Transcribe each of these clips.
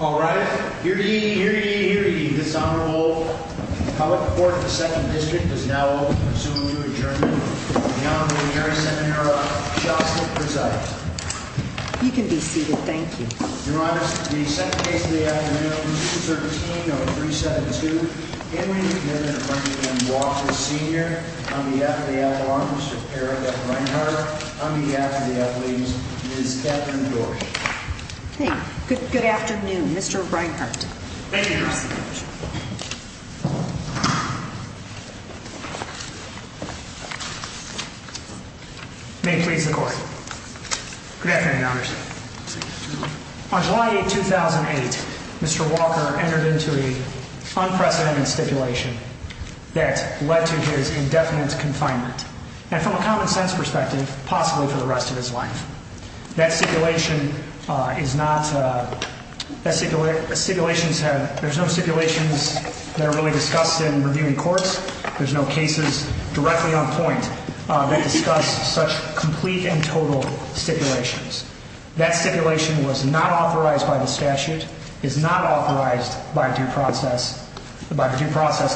All right, you're eating, you're eating, you're eating. This honorable public court. The second district is now soon to adjourn. You can be seated. Thank you. You're honest. The second case of the afternoon Good afternoon, Mr Reinhart. May please the court. Good afternoon. On July 2008, Mr Walker entered into a unprecedented stipulation that led to his indefinite confinement. And from a common sense perspective, possibly for the rest of his life. That stipulation is not a stipulation. Stipulations have. There's no stipulations that are really discussed in reviewing courts. There's no cases directly on point that discuss such complete and total stipulations. That stipulation was not authorized by the statute is not authorized by due process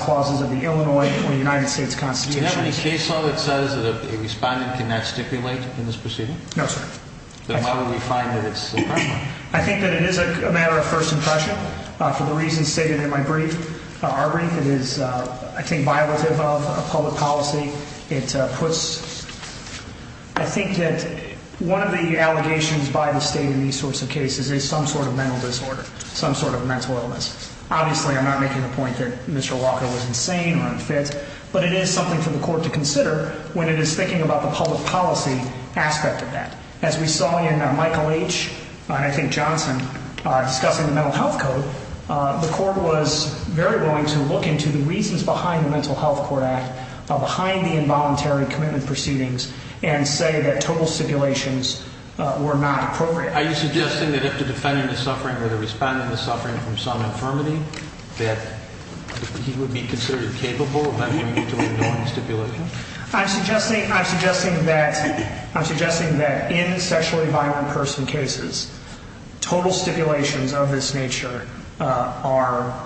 clauses of the Illinois or the United States Constitution. Any case law that says that a respondent cannot stipulate in this proceeding? No, sir. Then why would we find that it's? I think that it is a matter of first impression for the reasons stated in my brief. Our brief is, I think, violative of public policy. It puts I think that one of the allegations by the state in these sorts of cases is some sort of mental disorder, some sort of mental illness. Obviously, I'm not making the point that Mr. Walker was insane or unfit, but it is something for the court to consider when it is thinking about the public policy aspect of that. As we saw in Michael H. and I think Johnson discussing the Mental Health Code, the court was very willing to look into the reasons behind the Mental Health Court Act behind the involuntary commitment proceedings and say that total stipulations were not appropriate. Are you suggesting that if the defendant is suffering or the respondent is suffering from some infirmity, that he would be considered capable of involuntary stipulation? I'm suggesting that in sexually violent person cases, total stipulations of this nature are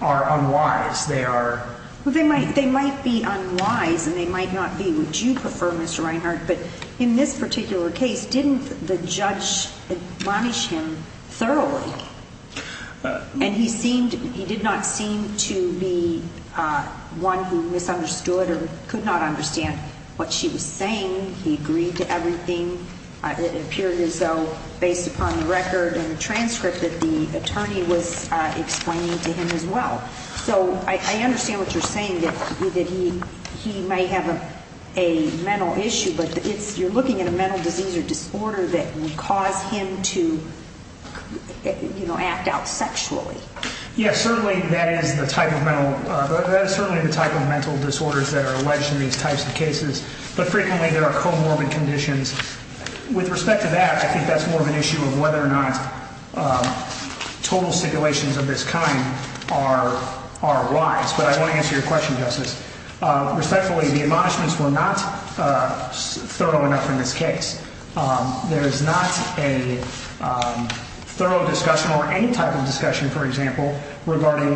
unwise. They are. They might be unwise and they might not be what you prefer, Mr. Reinhart, but in this particular case, didn't the judge admonish him thoroughly? And he did not seem to be one who misunderstood or could not understand what she was saying. He agreed to everything. It appeared as though based upon the record and transcript that the attorney was explaining to him as well. So I understand what you're saying, that he might have a mental issue, but you're looking at a mental disease or disorder that would cause him to act out sexually. Yes, certainly that is the type of mental disorders that are alleged in these types of cases, but frequently there are comorbid conditions. With respect to that, I think that's more of an issue of whether or not total stipulations of this kind are wise. But I want to answer your question, respectfully, the admonishments were not thorough enough in this case. There is not a thorough discussion or any type of discussion, for example, regarding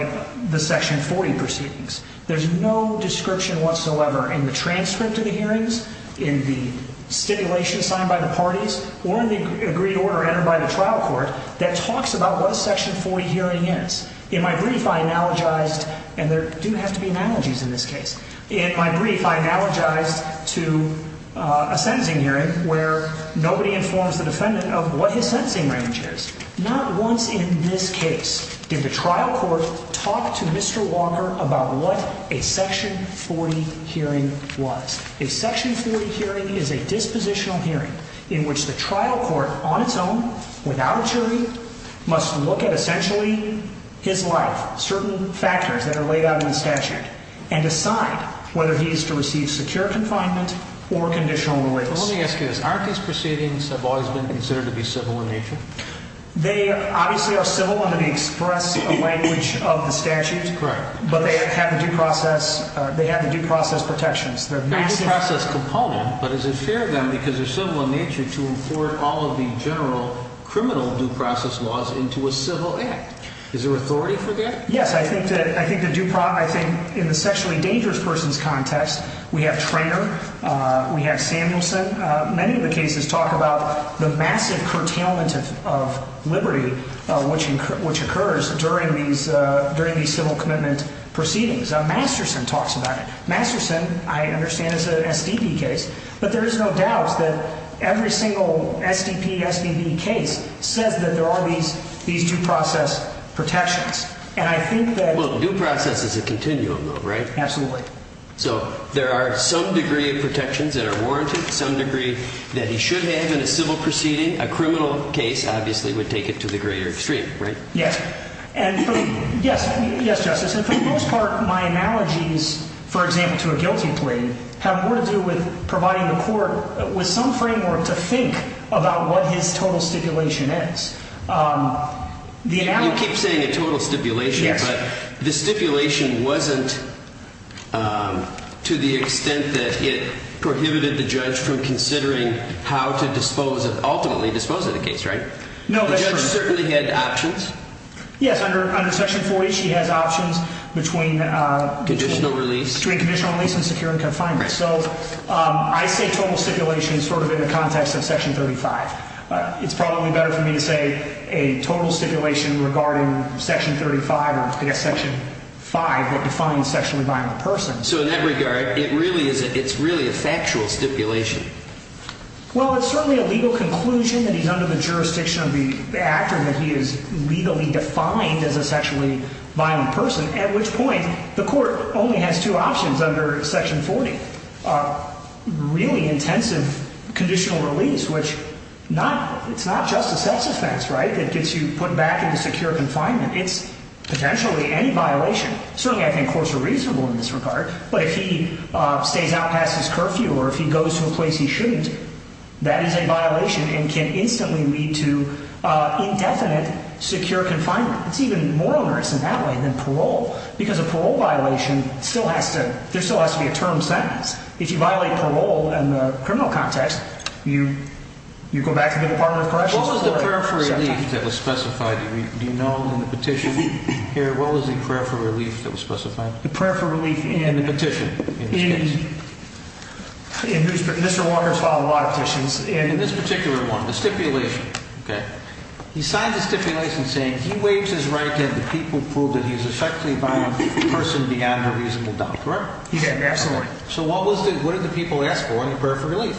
the Section 40 proceedings. There's no description whatsoever in the transcript of the hearings, in the stipulation signed by the parties, or in the agreed order entered by the trial court that talks about what a Section 40 hearing is. In my brief, I analogized, and there do have to be analogies in this case. In my brief, I analogized to a sentencing hearing where nobody informs the defendant of what his sentencing range is. Not once in this case did the trial court talk to Mr. Walker about what a Section 40 hearing was. A Section 40 hearing is a dispositional hearing in which the trial court, on its own, without a jury, must look at essentially his life, certain factors that are laid out in the statute, and decide whether he is to receive secure confinement or conditional release. Let me ask you this. Aren't these proceedings have always been considered to be civil in nature? They obviously are civil in the express language of the statute. Correct. But they have the due process protections. They have the due process component, but is it fair then, because they're civil in nature, to import all of the general criminal due process laws into a civil act? Is there authority for that? Yes. I think that in the sexually dangerous person's context, we have Treanor, we have Samuelson. Many of the cases talk about the massive curtailment of liberty which occurs during these civil commitment proceedings. Masterson talks about it. Masterson, I understand, is an SDP case. But there is no doubt that every single SDP, SBB case says that there are these due process protections. And I think that... Well, due process is a continuum, though, right? Absolutely. So there are some degree of protections that are warranted, some degree that he should have in a civil proceeding. A criminal case, obviously, would take it to the greater extreme, right? Yes. Yes, Justice. And for the most part, my analogies, for example, to a guilty plea, have more to do with providing the court with some framework to think about what his total stipulation is. You keep saying a total stipulation, but the stipulation wasn't to the extent that it prohibited the judge from considering how to ultimately dispose of the case, right? The judge certainly had options. Yes, under Section 40, she has options between... Conditional release. ...between conditional release and securing confinement. So I say total stipulation sort of in the context of Section 35. It's probably better for me to say a total stipulation regarding Section 35 or, I guess, Section 5, that defines sexually violent persons. So in that regard, it really is a factual stipulation. Well, it's certainly a legal conclusion that he's under the jurisdiction of the actor that he is legally defined as a sexually violent person, at which point the court only has two options under Section 40. Really intensive conditional release, which it's not just a sex offense, right, that gets you put back into secure confinement. It's potentially any violation. Certainly, I think courts are reasonable in this regard, but if he stays out past his curfew or if he goes to a place he shouldn't, that is a violation and can instantly lead to indefinite secure confinement. It's even more onerous in that way than parole, because a parole violation still has to... there still has to be a term sentence. If you violate parole in the criminal context, you go back to the Department of Corrections... What was the prayer for relief that was specified? Do you know in the petition here? What was the prayer for relief that was specified? In the petition, in this case. Mr. Walker's filed a lot of petitions, and in this particular one, the stipulation, he signed the stipulation saying he waives his right to have the people prove that he's a sexually violent person beyond a reasonable doubt, correct? He did, absolutely. So what did the people ask for in the prayer for relief?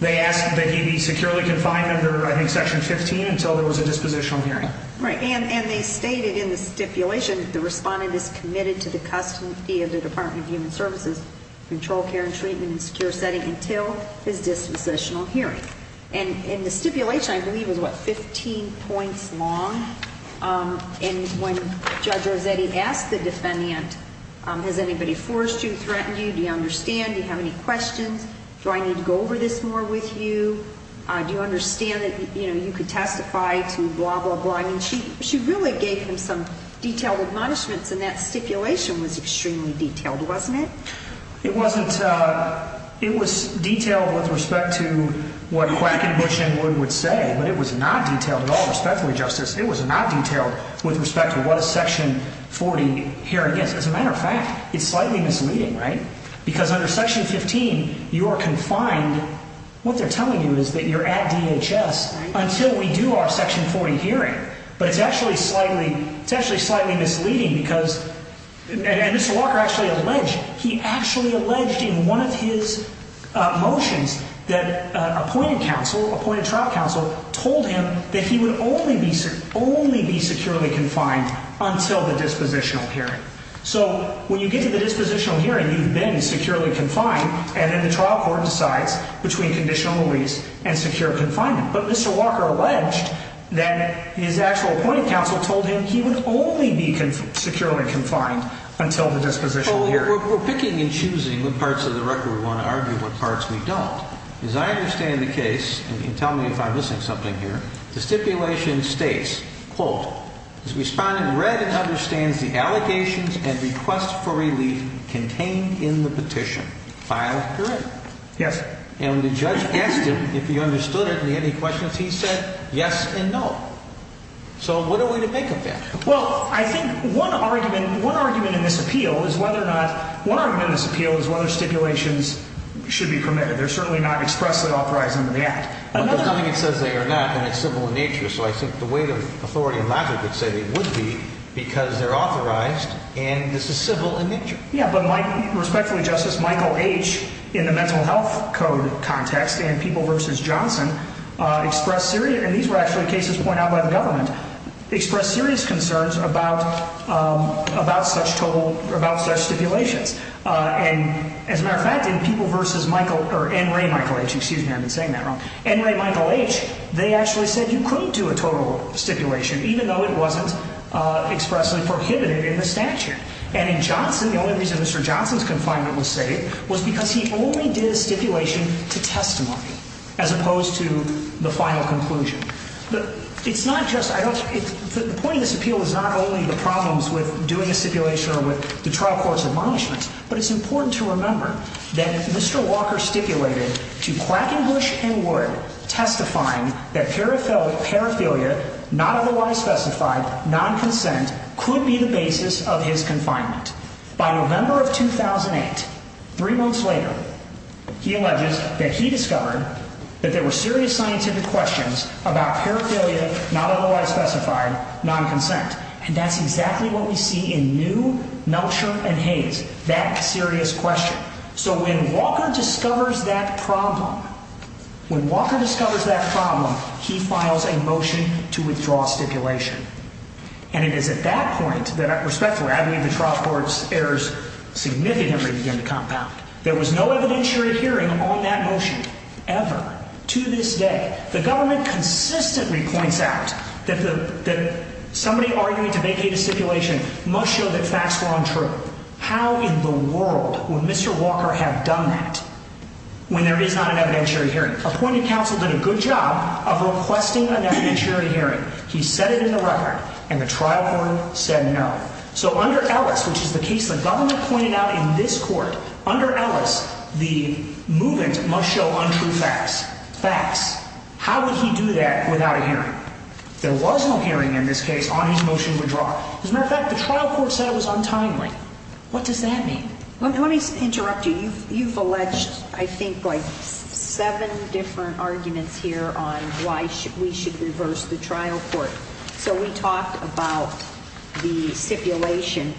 They asked that he be securely confined under, I think, Section 15 until there was a dispositional hearing. Right, and they stated in the stipulation that the respondent is committed to the custody of the controlled care and treatment in a secure setting until his dispositional hearing. And the stipulation, I believe, was, what, 15 points long? And when Judge Rossetti asked the defendant, Has anybody forced you, threatened you? Do you understand? Do you have any questions? Do I need to go over this more with you? Do you understand that you could testify to blah, blah, blah? I mean, she really gave him some detailed admonishments, and that stipulation was extremely detailed, wasn't it? It wasn't. It was detailed with respect to what Quackenbush and Wood would say, but it was not detailed at all respectfully, Justice. It was not detailed with respect to what a Section 40 hearing is. As a matter of fact, it's slightly misleading, right? Because under Section 15, you are confined. What they're telling you is that you're at DHS until we do our Section 40 hearing. But it's actually slightly misleading because, and Mr. Walker actually alleged, he actually alleged in one of his motions that appointed counsel, appointed trial counsel, told him that he would only be securely confined until the dispositional hearing. So when you get to the dispositional hearing, you've been securely confined, and then the trial court decides between conditional release and secure confinement. But Mr. Walker alleged that his actual appointed counsel told him Well, we're picking and choosing what parts of the record we want to argue, what parts we don't. As I understand the case, and you can tell me if I'm missing something here, the stipulation states, quote, And when the judge asked him if he understood it and he had any questions, he said yes and no. So what are we to make of that? Well, I think one argument in this appeal is whether stipulations should be permitted. They're certainly not expressly authorized under the Act. But the thing it says they are not, and it's civil in nature, so I think the weight of authority and logic would say they would be because they're authorized, and this is civil in nature. Yeah, but respectfully, Justice, Michael H., in the Mental Health Code context and People v. Johnson, expressed serious, and these were actually cases pointed out by the government, expressed serious concerns about such total, about such stipulations. And as a matter of fact, in People v. Michael, or N. Ray, Michael H. Excuse me, I've been saying that wrong. N. Ray, Michael H., they actually said you couldn't do a total stipulation, even though it wasn't expressly prohibited in the statute. And in Johnson, the only reason Mr. Johnson's confinement was saved was because he only did a stipulation to testimony as opposed to the final conclusion. But it's not just, I don't, the point of this appeal is not only the problems with doing a stipulation or with the trial court's admonishments, but it's important to remember that Mr. Walker stipulated to Quackenbush and Wood testifying that paraphilia, not otherwise specified, non-consent, could be the basis of his confinement. By November of 2008, three months later, he alleges that he discovered that there were serious scientific questions about paraphilia, not otherwise specified, non-consent. And that's exactly what we see in New, Melcher, and Hayes, that serious question. So when Walker discovers that problem, when Walker discovers that problem, he files a motion to withdraw stipulation. And it is at that point that respect for admonishing the trial court's errors significantly began to compound. There was no evidentiary hearing on that motion, ever, to this day. The government consistently points out that somebody arguing to vacate a stipulation must show that facts were untrue. How in the world would Mr. Walker have done that when there is not an evidentiary hearing? Appointed counsel did a good job of requesting an evidentiary hearing. He set it in the record, and the trial court said no. So under Ellis, which is the case the government pointed out in this court, under Ellis, the movement must show untrue facts. Facts. How would he do that without a hearing? There was no hearing in this case on his motion to withdraw. As a matter of fact, the trial court said it was untimely. What does that mean? Let me interrupt you. You've alleged, I think, like seven different arguments here on why we should reverse the trial court. So we talked about the stipulation.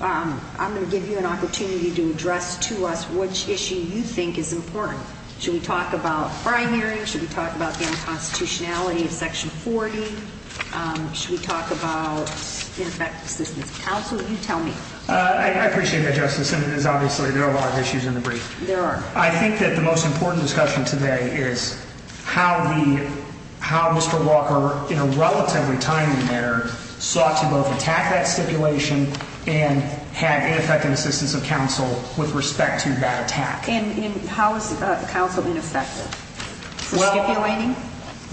I'm going to give you an opportunity to address to us which issue you think is important. Should we talk about prior hearings? Should we talk about the unconstitutionality of Section 40? Should we talk about ineffective assistance of counsel? You tell me. I appreciate that, Justice, and it is obviously there are a lot of issues in the brief. There are. I think that the most important discussion today is how Mr. Walker, in a relatively timely manner, sought to both attack that stipulation and have ineffective assistance of counsel with respect to that attack. And how is counsel ineffective for stipulating?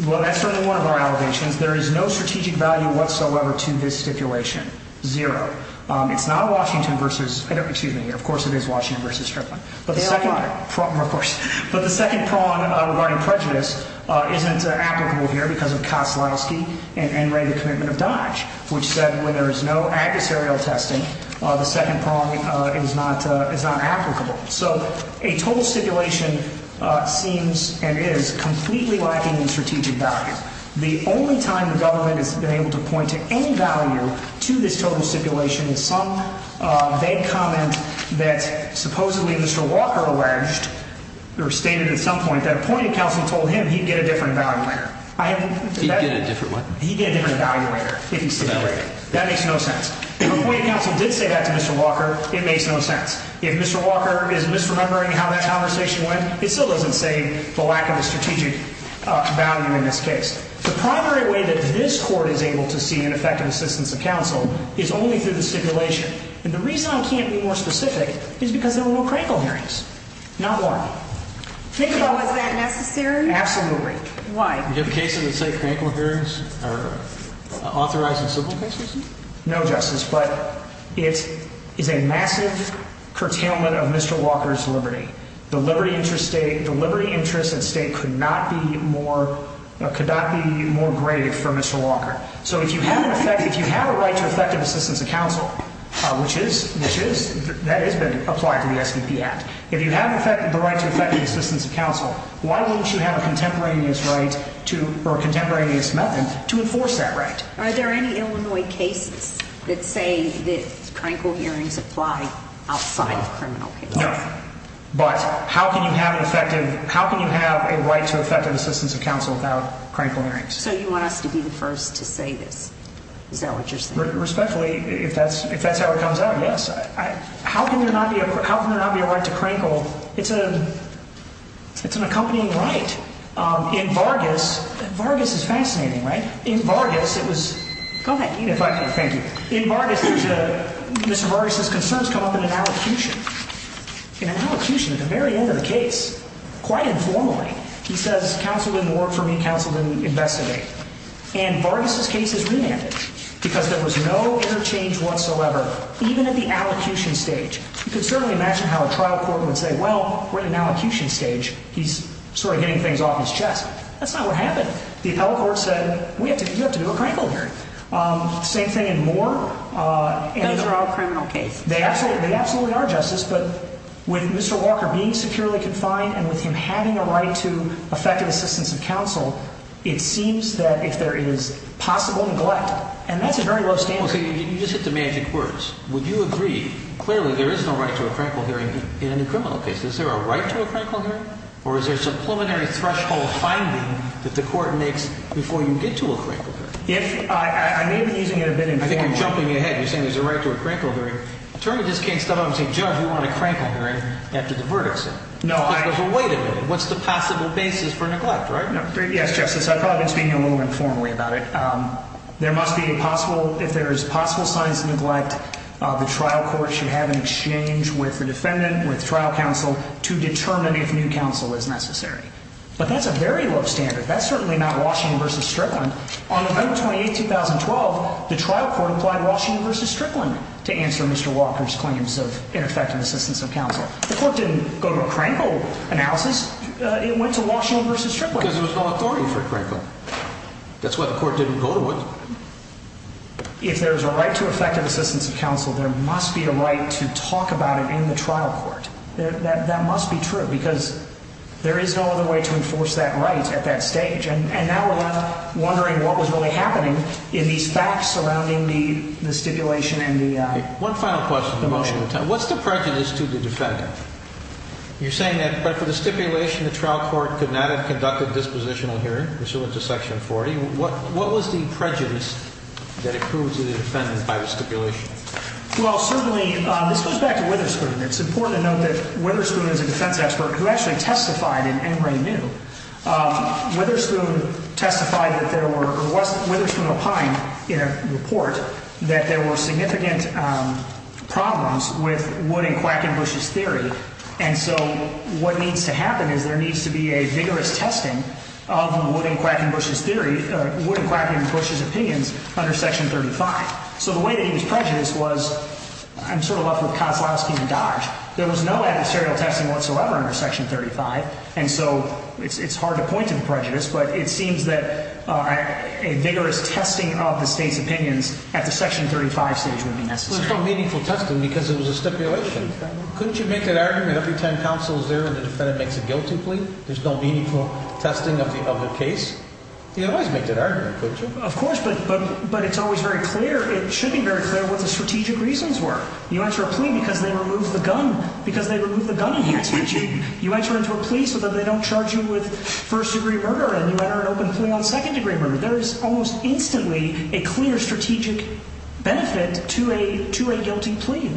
Well, that's certainly one of our allegations. There is no strategic value whatsoever to this stipulation. Zero. It's not a Washington versus ‑‑ excuse me, of course it is Washington versus Strickland. They are not. Of course. But the second prong regarding prejudice isn't applicable here because of Koslowski and Ray's commitment of Dodge, which said when there is no adversarial testing, the second prong is not applicable. So a total stipulation seems and is completely lacking in strategic value. The only time the government has been able to point to any value to this total stipulation is some vague comment that supposedly Mr. Walker alleged or stated at some point that a point of counsel told him he'd get a different evaluator. He'd get a different what? He'd get a different evaluator if he stipulated. That makes no sense. If a point of counsel did say that to Mr. Walker, it makes no sense. If Mr. Walker is misremembering how that conversation went, it still doesn't say the lack of a strategic value in this case. The primary way that this Court is able to see an effective assistance of counsel is only through the stipulation. And the reason I can't be more specific is because there were no crankle hearings. Not one. Was that necessary? Absolutely. Why? Do you have cases that say crankle hearings are authorizing civil cases? No, Justice, but it is a massive curtailment of Mr. Walker's liberty. The liberty interest at stake could not be more greated for Mr. Walker. So if you have a right to effective assistance of counsel, which that has been applied to the SDP Act, if you have the right to effective assistance of counsel, why wouldn't you have a contemporaneous method to enforce that right? Are there any Illinois cases that say that crankle hearings apply outside of criminal cases? No. But how can you have a right to effective assistance of counsel without crankle hearings? So you want us to be the first to say this? Is that what you're saying? Respectfully, if that's how it comes out, yes. How can there not be a right to crankle? It's an accompanying right. In Vargas, Vargas is fascinating, right? In Vargas, it was... Go ahead, Edith. Thank you. In Vargas, Mr. Vargas's concerns come up in an allocution. In an allocution, at the very end of the case, quite informally, he says, counsel didn't work for me, counsel didn't investigate. And Vargas's case is remanded because there was no interchange whatsoever, even at the allocution stage. You can certainly imagine how a trial court would say, well, we're in an allocution stage. He's sort of getting things off his chest. That's not what happened. The appellate court said, you have to do a crankle hearing. Same thing in Moore. Those are all criminal cases. They absolutely are, Justice, but with Mr. Walker being securely confined and with him having a right to effective assistance of counsel, it seems that if there is possible neglect, and that's a very low standard. You just hit the magic words. Would you agree, clearly there is no right to a crankle hearing in a criminal case. Is there a right to a crankle hearing? Or is there a preliminary threshold finding that the court makes before you get to a crankle hearing? I may be using it a bit informally. I think you're jumping ahead. You're saying there's a right to a crankle hearing. A attorney just can't step up and say, Judge, we want a crankle hearing after the verdict's in. There's a wait a minute. What's the possible basis for neglect, right? Yes, Justice, I've probably been speaking a little informally about it. There must be a possible, if there is possible signs of neglect, the trial court should have an exchange with the defendant, with trial counsel, to determine if new counsel is necessary. But that's a very low standard. That's certainly not Washington v. Strickland. On May 28, 2012, the trial court applied Washington v. Strickland to answer Mr. Walker's claims of ineffective assistance of counsel. The court didn't go to a crankle analysis. It went to Washington v. Strickland. Because there was no authority for a crankle. That's why the court didn't go to it. If there's a right to effective assistance of counsel, there must be a right to talk about it in the trial court. That must be true because there is no other way to enforce that right at that stage. And now we're wondering what was really happening in these facts surrounding the stipulation and the motion. One final question on the motion. What's the prejudice to the defendant? You're saying that, but for the stipulation, the trial court could not have conducted dispositional hearing pursuant to Section 40. What was the prejudice that it proved to the defendant by the stipulation? Well, certainly, this goes back to Witherspoon. It's important to note that Witherspoon is a defense expert who actually testified in Emory v. New. Witherspoon testified that there were, or Witherspoon opined in a report, that there were significant problems with Wood and Quackenbush's theory. And so what needs to happen is there needs to be a vigorous testing of Wood and Quackenbush's theory, Wood and Quackenbush's opinions under Section 35. So the way that he was prejudiced was, I'm sort of left with Kozlowski and Dodge. There was no adversarial testing whatsoever under Section 35. And so it's hard to point to the prejudice, but it seems that a vigorous testing of the state's opinions at the Section 35 stage would be necessary. Well, there's no meaningful testing because it was a stipulation. Couldn't you make that argument every time counsel is there and the defendant makes a guilty plea? There's no meaningful testing of the case? You'd always make that argument, couldn't you? Of course, but it's always very clear. It should be very clear what the strategic reasons were. You answer a plea because they removed the gun. Because they removed the gun enhancements. You might turn into a plea so that they don't charge you with first-degree murder and you enter an open plea on second-degree murder. There is almost instantly a clear strategic benefit to a guilty plea.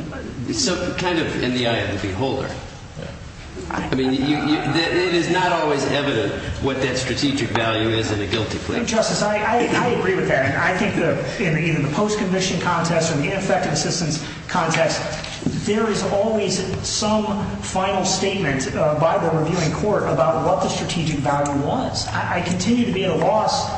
So kind of in the eye of the beholder. I mean, it is not always evident what that strategic value is in a guilty plea. Justice, I agree with that. I think in the post-conviction context or the ineffective assistance context, there is always some final statement by the reviewing court about what the strategic value was. I continue to be at a loss.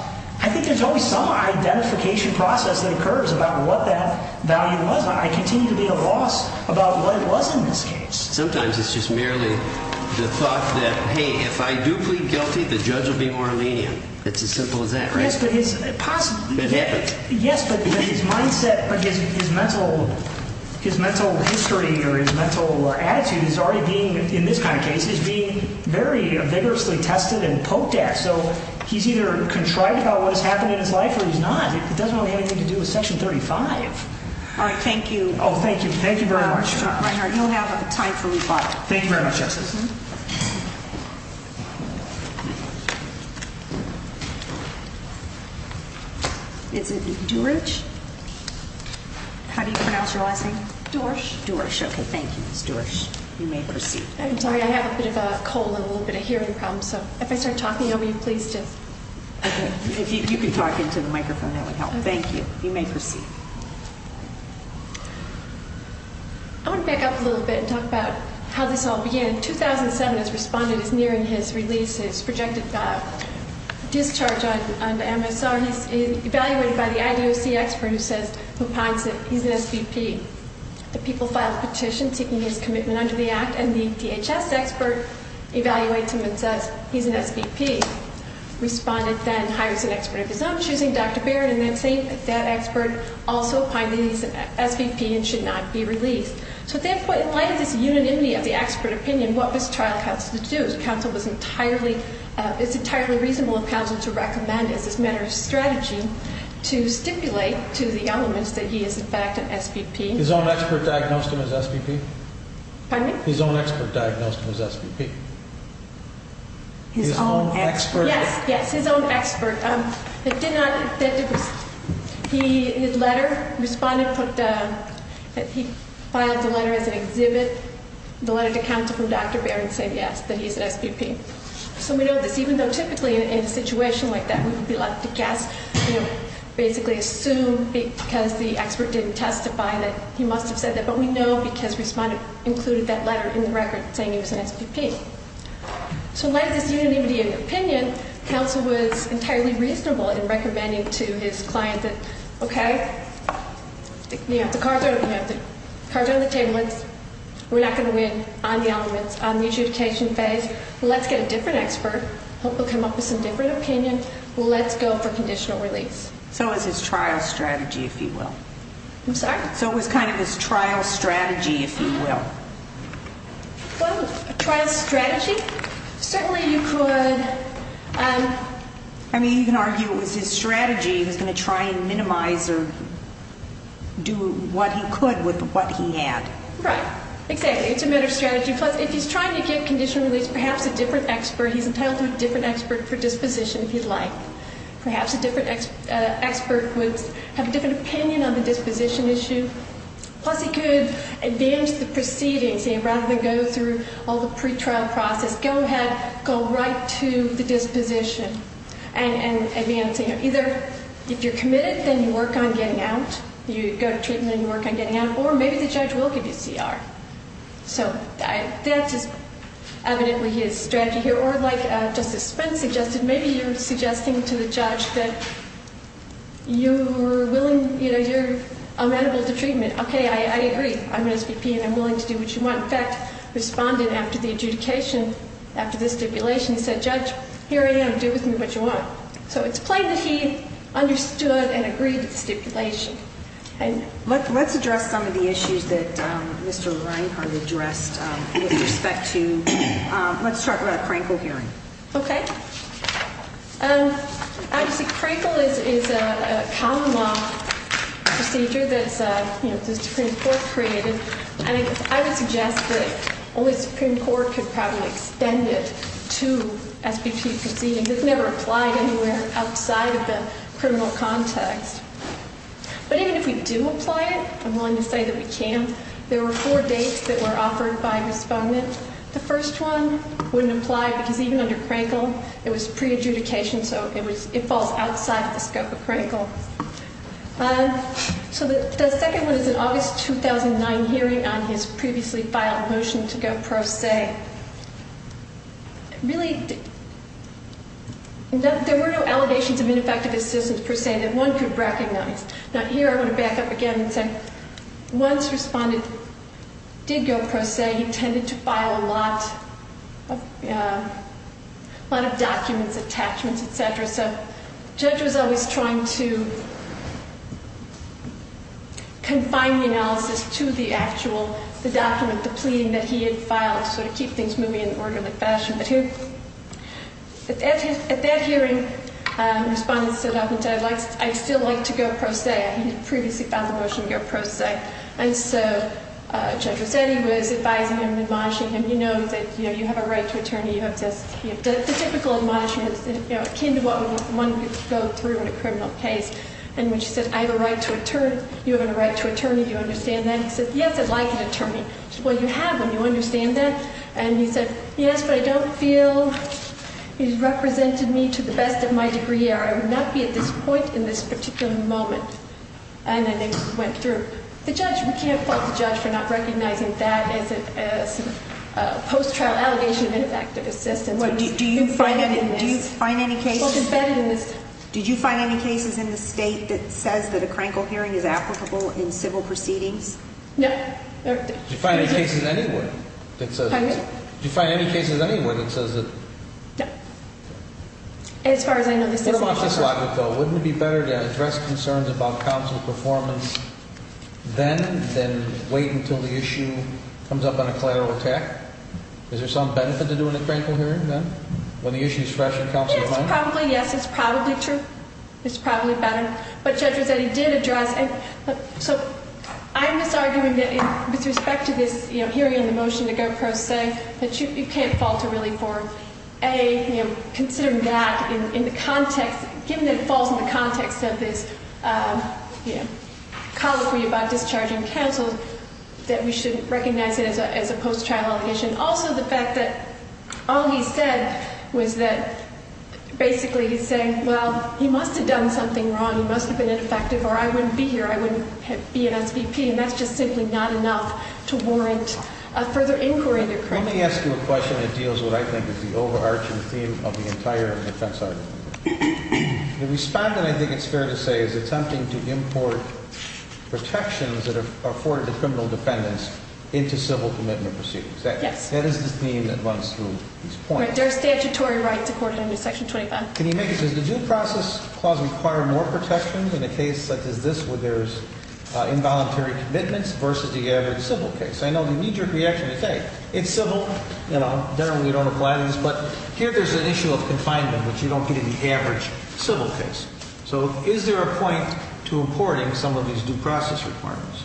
I think there's always some identification process that occurs about what that value was. I continue to be at a loss about what it was in this case. Sometimes it's just merely the thought that, hey, if I do plead guilty, the judge will be more lenient. It's as simple as that, right? Yes, but his mindset or his mental history or his mental attitude is already being, in this kind of case, is being very vigorously tested and poked at. So he's either contrived about what has happened in his life or he's not. It doesn't really have anything to do with Section 35. All right, thank you. Oh, thank you. Thank you very much. Chief Reinhart, you'll have time for rebuttal. Thank you very much, Justice. Is it Dorsch? How do you pronounce your last name? Dorsch. Dorsch, okay, thank you. It's Dorsch. You may proceed. I'm sorry, I have a bit of a cold and a little bit of hearing problems, so if I start talking, I'll be pleased to. Okay, if you could talk into the microphone, that would help. Thank you. You may proceed. I want to back up a little bit and talk about how this all began. In 2007, as Respondent is nearing his release, his projected discharge on MSR, he's evaluated by the IDOC expert who finds that he's an SVP. The people file a petition seeking his commitment under the Act, and the DHS expert evaluates him and says he's an SVP. Respondent then hires an expert of his own, choosing Dr. Barrett, and then saying that that expert also finds that he's an SVP and should not be released. So at that point, in light of this unanimity of the expert opinion, what was trial counsel to do? It's entirely reasonable of counsel to recommend, as a matter of strategy, to stipulate to the elements that he is, in fact, an SVP. His own expert diagnosed him as SVP? Pardon me? His own expert diagnosed him as SVP. His own expert? Yes, yes, his own expert. His letter, Respondent put that he filed the letter as an exhibit, the letter to counsel from Dr. Barrett said yes, that he's an SVP. So we know this, even though typically in a situation like that, we would be left to guess, you know, basically assume because the expert didn't testify that he must have said that, but we know because Respondent included that letter in the record saying he was an SVP. So in light of this unanimity of opinion, counsel was entirely reasonable in recommending to his client that, okay, the cards are on the table, we're not going to win on the elements, on the adjudication phase, let's get a different expert, hope he'll come up with some different opinion, let's go for conditional release. So it was his trial strategy, if you will? I'm sorry? So it was kind of his trial strategy, if you will? Well, trial strategy? Certainly you could. I mean, you can argue it was his strategy, he was going to try and minimize or do what he could with what he had. Right, exactly. It's a matter of strategy. Plus, if he's trying to get conditional release, perhaps a different expert, he's entitled to a different expert for disposition if he'd like. Perhaps a different expert would have a different opinion on the disposition issue. Plus, he could advance the proceedings, rather than go through all the pretrial process, go ahead, go right to the disposition and advance. Either if you're committed, then you work on getting out, you go to treatment and you work on getting out, or maybe the judge will give you CR. So that's evidently his strategy here. Or like Justice Spence suggested, maybe you're suggesting to the judge that you're amenable to treatment. Okay, I agree. I'm an SVP and I'm willing to do what you want. In fact, the respondent, after the adjudication, after the stipulation, said, Judge, here I am, do with me what you want. Let's address some of the issues that Mr. Reinhart addressed with respect to, let's talk about a Crankle hearing. Okay. Crankle is a common law procedure that the Supreme Court created. I would suggest that only the Supreme Court could probably extend it to SVP proceedings. It's never applied anywhere outside of the criminal context. But even if we do apply it, I'm willing to say that we can. There were four dates that were offered by a respondent. The first one wouldn't apply because even under Crankle, it was pre-adjudication, so it falls outside the scope of Crankle. So the second one is an August 2009 hearing on his previously filed motion to go pro se. Really, there were no allegations of ineffective assistance per se that one could recognize. Now, here I want to back up again and say, once the respondent did go pro se, he tended to file a lot of documents, attachments, et cetera. So the judge was always trying to confine the analysis to the actual document, the pleading that he had filed, sort of keep things moving in an orderly fashion. But at that hearing, the respondent said, I'd still like to go pro se. He had previously filed the motion to go pro se. And so Judge Rossetti was advising him and admonishing him, you know that you have a right to attorney. The typical admonishments akin to what one would go through in a criminal case. And when she said, I have a right to attorney, you have a right to attorney, do you understand that? He said, yes, I'd like an attorney. She said, well, you have one. Do you understand that? And he said, yes, but I don't feel he's represented me to the best of my degree, or I would not be at this point in this particular moment. And then they went through. The judge, we can't fault the judge for not recognizing that as a post-trial allegation of ineffective assistance. Do you find any cases in the state that says that a crankle hearing is applicable in civil proceedings? No. Do you find any cases anywhere that says that? Do you find any cases anywhere that says that? No. As far as I know, this isn't the case. Wouldn't it be better to address concerns about counsel's performance then than wait until the issue comes up on a collateral attack? Is there some benefit to doing a crankle hearing then when the issue is fresh in counsel's mind? Yes, it's probably true. It's probably better. But Judge Rossetti did address. So I'm just arguing that with respect to this hearing and the motion to go pro se, that you can't fault it really for, A, considering that in the context, given that it falls in the context of this colloquy about discharging counsel, that we should recognize it as a post-trial allegation. Also, the fact that all he said was that basically he's saying, well, he must have done something wrong. He must have been ineffective, or I wouldn't be here. I wouldn't be an SVP. And that's just simply not enough to warrant a further inquiry. Let me ask you a question that deals with what I think is the overarching theme of the entire defense argument. The respondent, I think it's fair to say, is attempting to import protections that are afforded to criminal defendants into civil commitment proceedings. Yes. That is the theme that runs through these points. There are statutory rights accorded under Section 25. Can you make it, does the due process clause require more protections in a case such as this where there's involuntary commitments versus the average civil case? I know the knee-jerk reaction is, hey, it's civil. You know, generally we don't apply these. But here there's an issue of confinement, which you don't get in the average civil case. So is there a point to importing some of these due process requirements?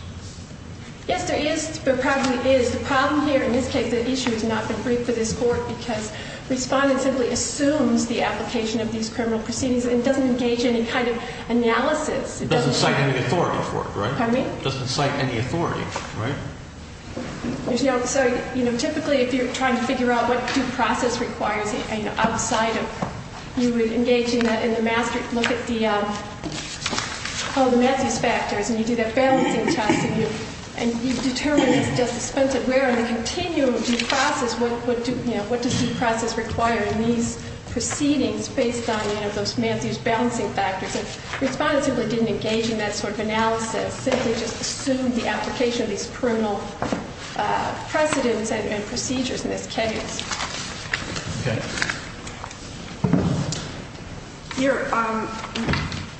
Yes, there is. There probably is. There's a problem here. In this case, the issue has not been briefed for this court because respondent simply assumes the application of these criminal proceedings and doesn't engage in any kind of analysis. It doesn't cite any authority for it, right? Pardon me? It doesn't cite any authority, right? There's no, so typically if you're trying to figure out what due process requires outside of, you would engage in the master, look at the, oh, the Matthews factors. And you do that balancing test and you determine if it's just expensive. Where in the continuum of due process, what does due process require in these proceedings based on, you know, those Matthews balancing factors? And respondent simply didn't engage in that sort of analysis. Simply just assumed the application of these criminal precedents and procedures in this case. Okay. Here,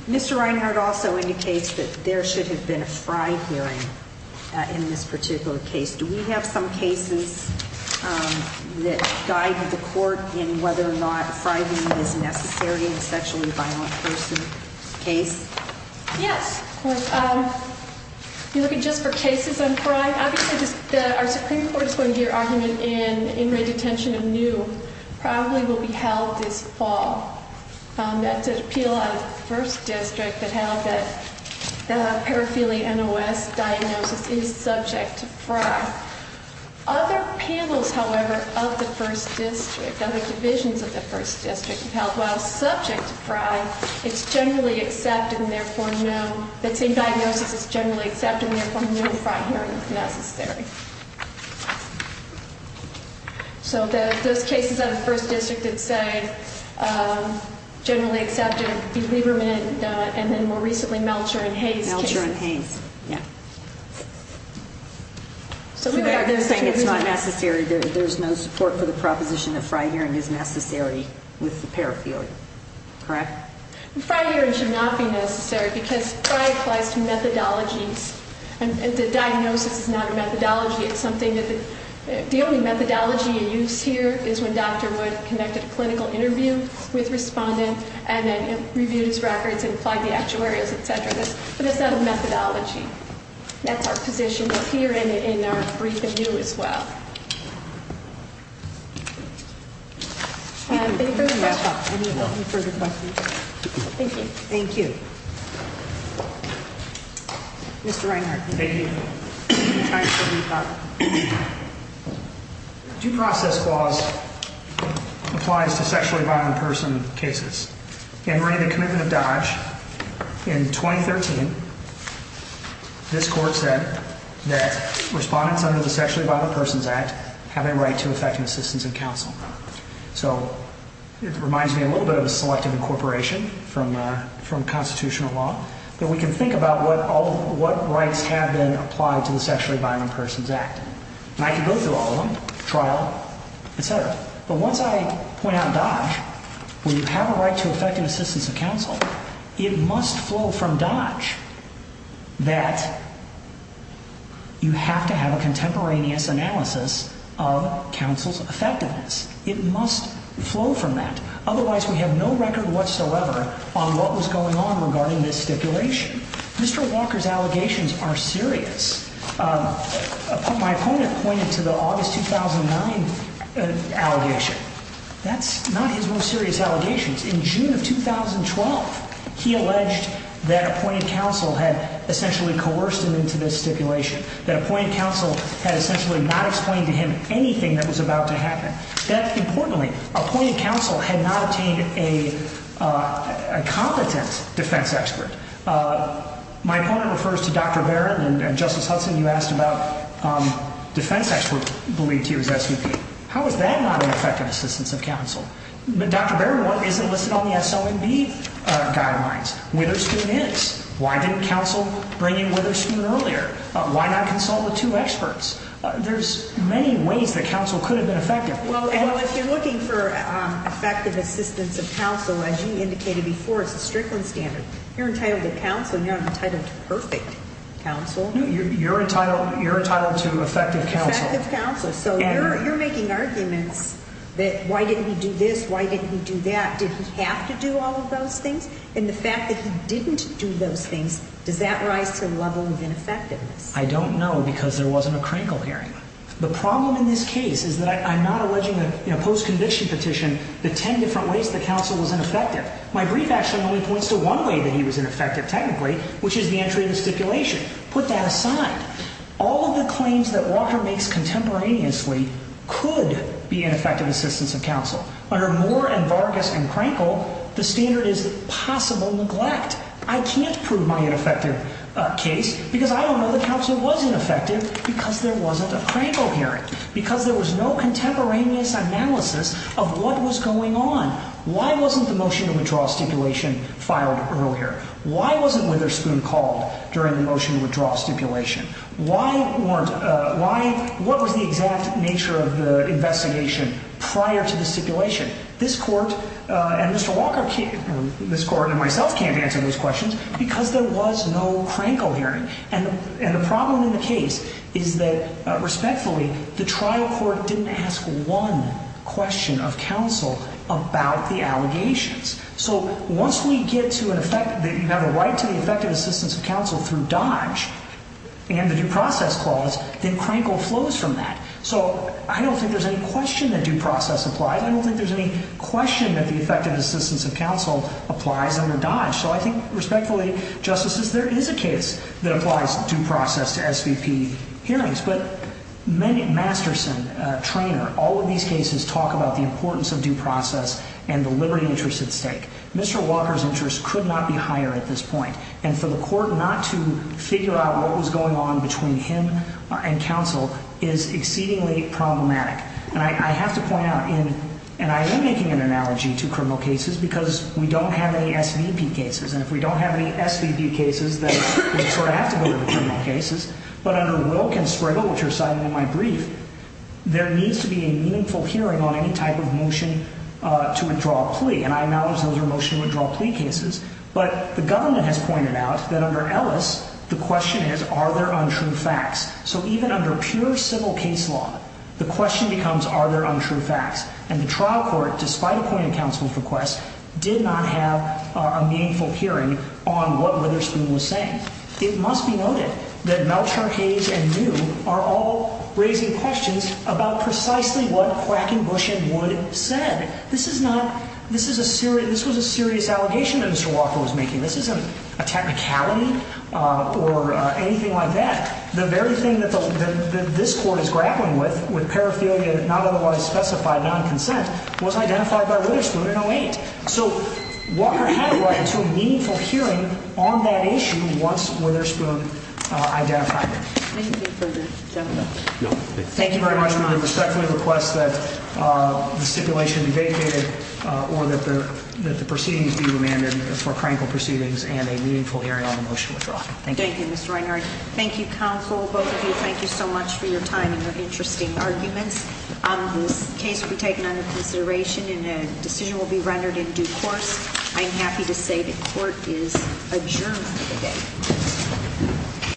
Mr. Reinhardt also indicates that there should have been a fried hearing in this particular case. Do we have some cases that guide the court in whether or not frightening is necessary in a sexually violent person case? Yes. You're looking just for cases on pride. Obviously, our Supreme Court is going to hear argument in redetention of new, probably will be held this fall. That's an appeal on the first district that held that the paraphernalia NOS diagnosis is subject to fry. Other panels, however, of the first district, other divisions of the first district held, while subject to fry, it's generally accepted and, therefore, no. That same diagnosis is generally accepted and, therefore, no fry hearing is necessary. So those cases of the first district that say generally accepted, Lieberman and then more recently Melcher and Hayes. Melcher and Hayes. Yeah. They're saying it's not necessary. There's no support for the proposition that fry hearing is necessary with the paraphernalia. Correct? Fry hearing should not be necessary because fry applies to methodologies, and the diagnosis is not a methodology. It's something that the only methodology in use here is when Dr. Wood connected a clinical interview with respondent and then reviewed his records and applied the actuaries, et cetera. But it's not a methodology. That's our position here and in our brief review as well. Any further questions? Thank you. Thank you. Mr. Reinhart. Thank you. Due process clause applies to sexually violent person cases. In writing the commitment of Dodge in 2013, this court said that respondents under the Sexually Violent Persons Act have a right to effective assistance and counsel. So it reminds me a little bit of a selective incorporation from constitutional law that we can think about what rights have been applied to the Sexually Violent Persons Act. And I can go through all of them, trial, et cetera. But once I point out Dodge, we have a right to effective assistance and counsel. It must flow from Dodge that you have to have a contemporaneous analysis of counsel's effectiveness. It must flow from that. Otherwise, we have no record whatsoever on what was going on regarding this stipulation. Mr. Walker's allegations are serious. My opponent pointed to the August 2009 allegation. That's not his most serious allegations. In June of 2012, he alleged that appointed counsel had essentially coerced him into this stipulation, that appointed counsel had essentially not explained to him anything that was about to happen. Importantly, appointed counsel had not obtained a competent defense expert. My opponent refers to Dr. Barron and Justice Hudson. You asked about defense experts believed to use SVP. How is that not an effective assistance of counsel? But Dr. Barron isn't listed on the SOMB guidelines. Witherspoon is. Why didn't counsel bring in Witherspoon earlier? Why not consult the two experts? There's many ways that counsel could have been effective. Well, if you're looking for effective assistance of counsel, as you indicated before, it's a Strickland standard. You're entitled to counsel. You're not entitled to perfect counsel. You're entitled to effective counsel. Effective counsel. So you're making arguments that why didn't he do this? Why didn't he do that? Did he have to do all of those things? And the fact that he didn't do those things, does that rise to a level of ineffectiveness? I don't know because there wasn't a crinkle hearing. The problem in this case is that I'm not alleging in a post-conviction petition the ten different ways that counsel was ineffective. My brief actually only points to one way that he was ineffective technically, which is the entry of the stipulation. Put that aside. All of the claims that Walker makes contemporaneously could be ineffective assistance of counsel. Under Moore and Vargas and Crankle, the standard is possible neglect. I can't prove my ineffective case because I don't know that counsel was ineffective because there wasn't a Crankle hearing. Because there was no contemporaneous analysis of what was going on. Why wasn't the motion to withdraw stipulation filed earlier? Why wasn't Witherspoon called during the motion to withdraw stipulation? What was the exact nature of the investigation prior to the stipulation? This court and myself can't answer those questions because there was no Crankle hearing. And the problem in the case is that, respectfully, the trial court didn't ask one question of counsel about the allegations. So once we get to an effect that you have a right to the effective assistance of counsel through Dodge and the due process clause, then Crankle flows from that. So I don't think there's any question that due process applies. I don't think there's any question that the effective assistance of counsel applies under Dodge. So I think, respectfully, Justices, there is a case that applies due process to SVP hearings. But Masterson, Treanor, all of these cases talk about the importance of due process and the liberty interest at stake. Mr. Walker's interest could not be higher at this point. And for the court not to figure out what was going on between him and counsel is exceedingly problematic. And I have to point out, and I am making an analogy to criminal cases because we don't have any SVP cases. And if we don't have any SVP cases, then we sort of have to go to the criminal cases. But under Wilk and Spriggle, which are cited in my brief, there needs to be a meaningful hearing on any type of motion to withdraw a plea. And I acknowledge those are motion to withdraw plea cases. But the government has pointed out that under Ellis, the question is, are there untrue facts? So even under pure civil case law, the question becomes, are there untrue facts? And the trial court, despite a point of counsel's request, did not have a meaningful hearing on what Witherspoon was saying. It must be noted that Mel Tarchage and New are all raising questions about precisely what Quackenbush and Wood said. This was a serious allegation that Mr. Walker was making. This isn't a technicality or anything like that. The very thing that this court is grappling with, with paraphilia not otherwise specified, non-consent, was identified by Witherspoon in 08. So Walker had a right to a meaningful hearing on that issue once Witherspoon identified it. Anything further, gentlemen? No. Thank you very much. We respectfully request that the stipulation be vacated or that the proceedings be remanded for crankled proceedings and a meaningful hearing on the motion to withdraw. Thank you. Thank you, Mr. Reinhart. Thank you, counsel. Both of you, thank you so much for your time and your interesting arguments. This case will be taken under consideration and a decision will be rendered in due course. I'm happy to say the court is adjourned for the day.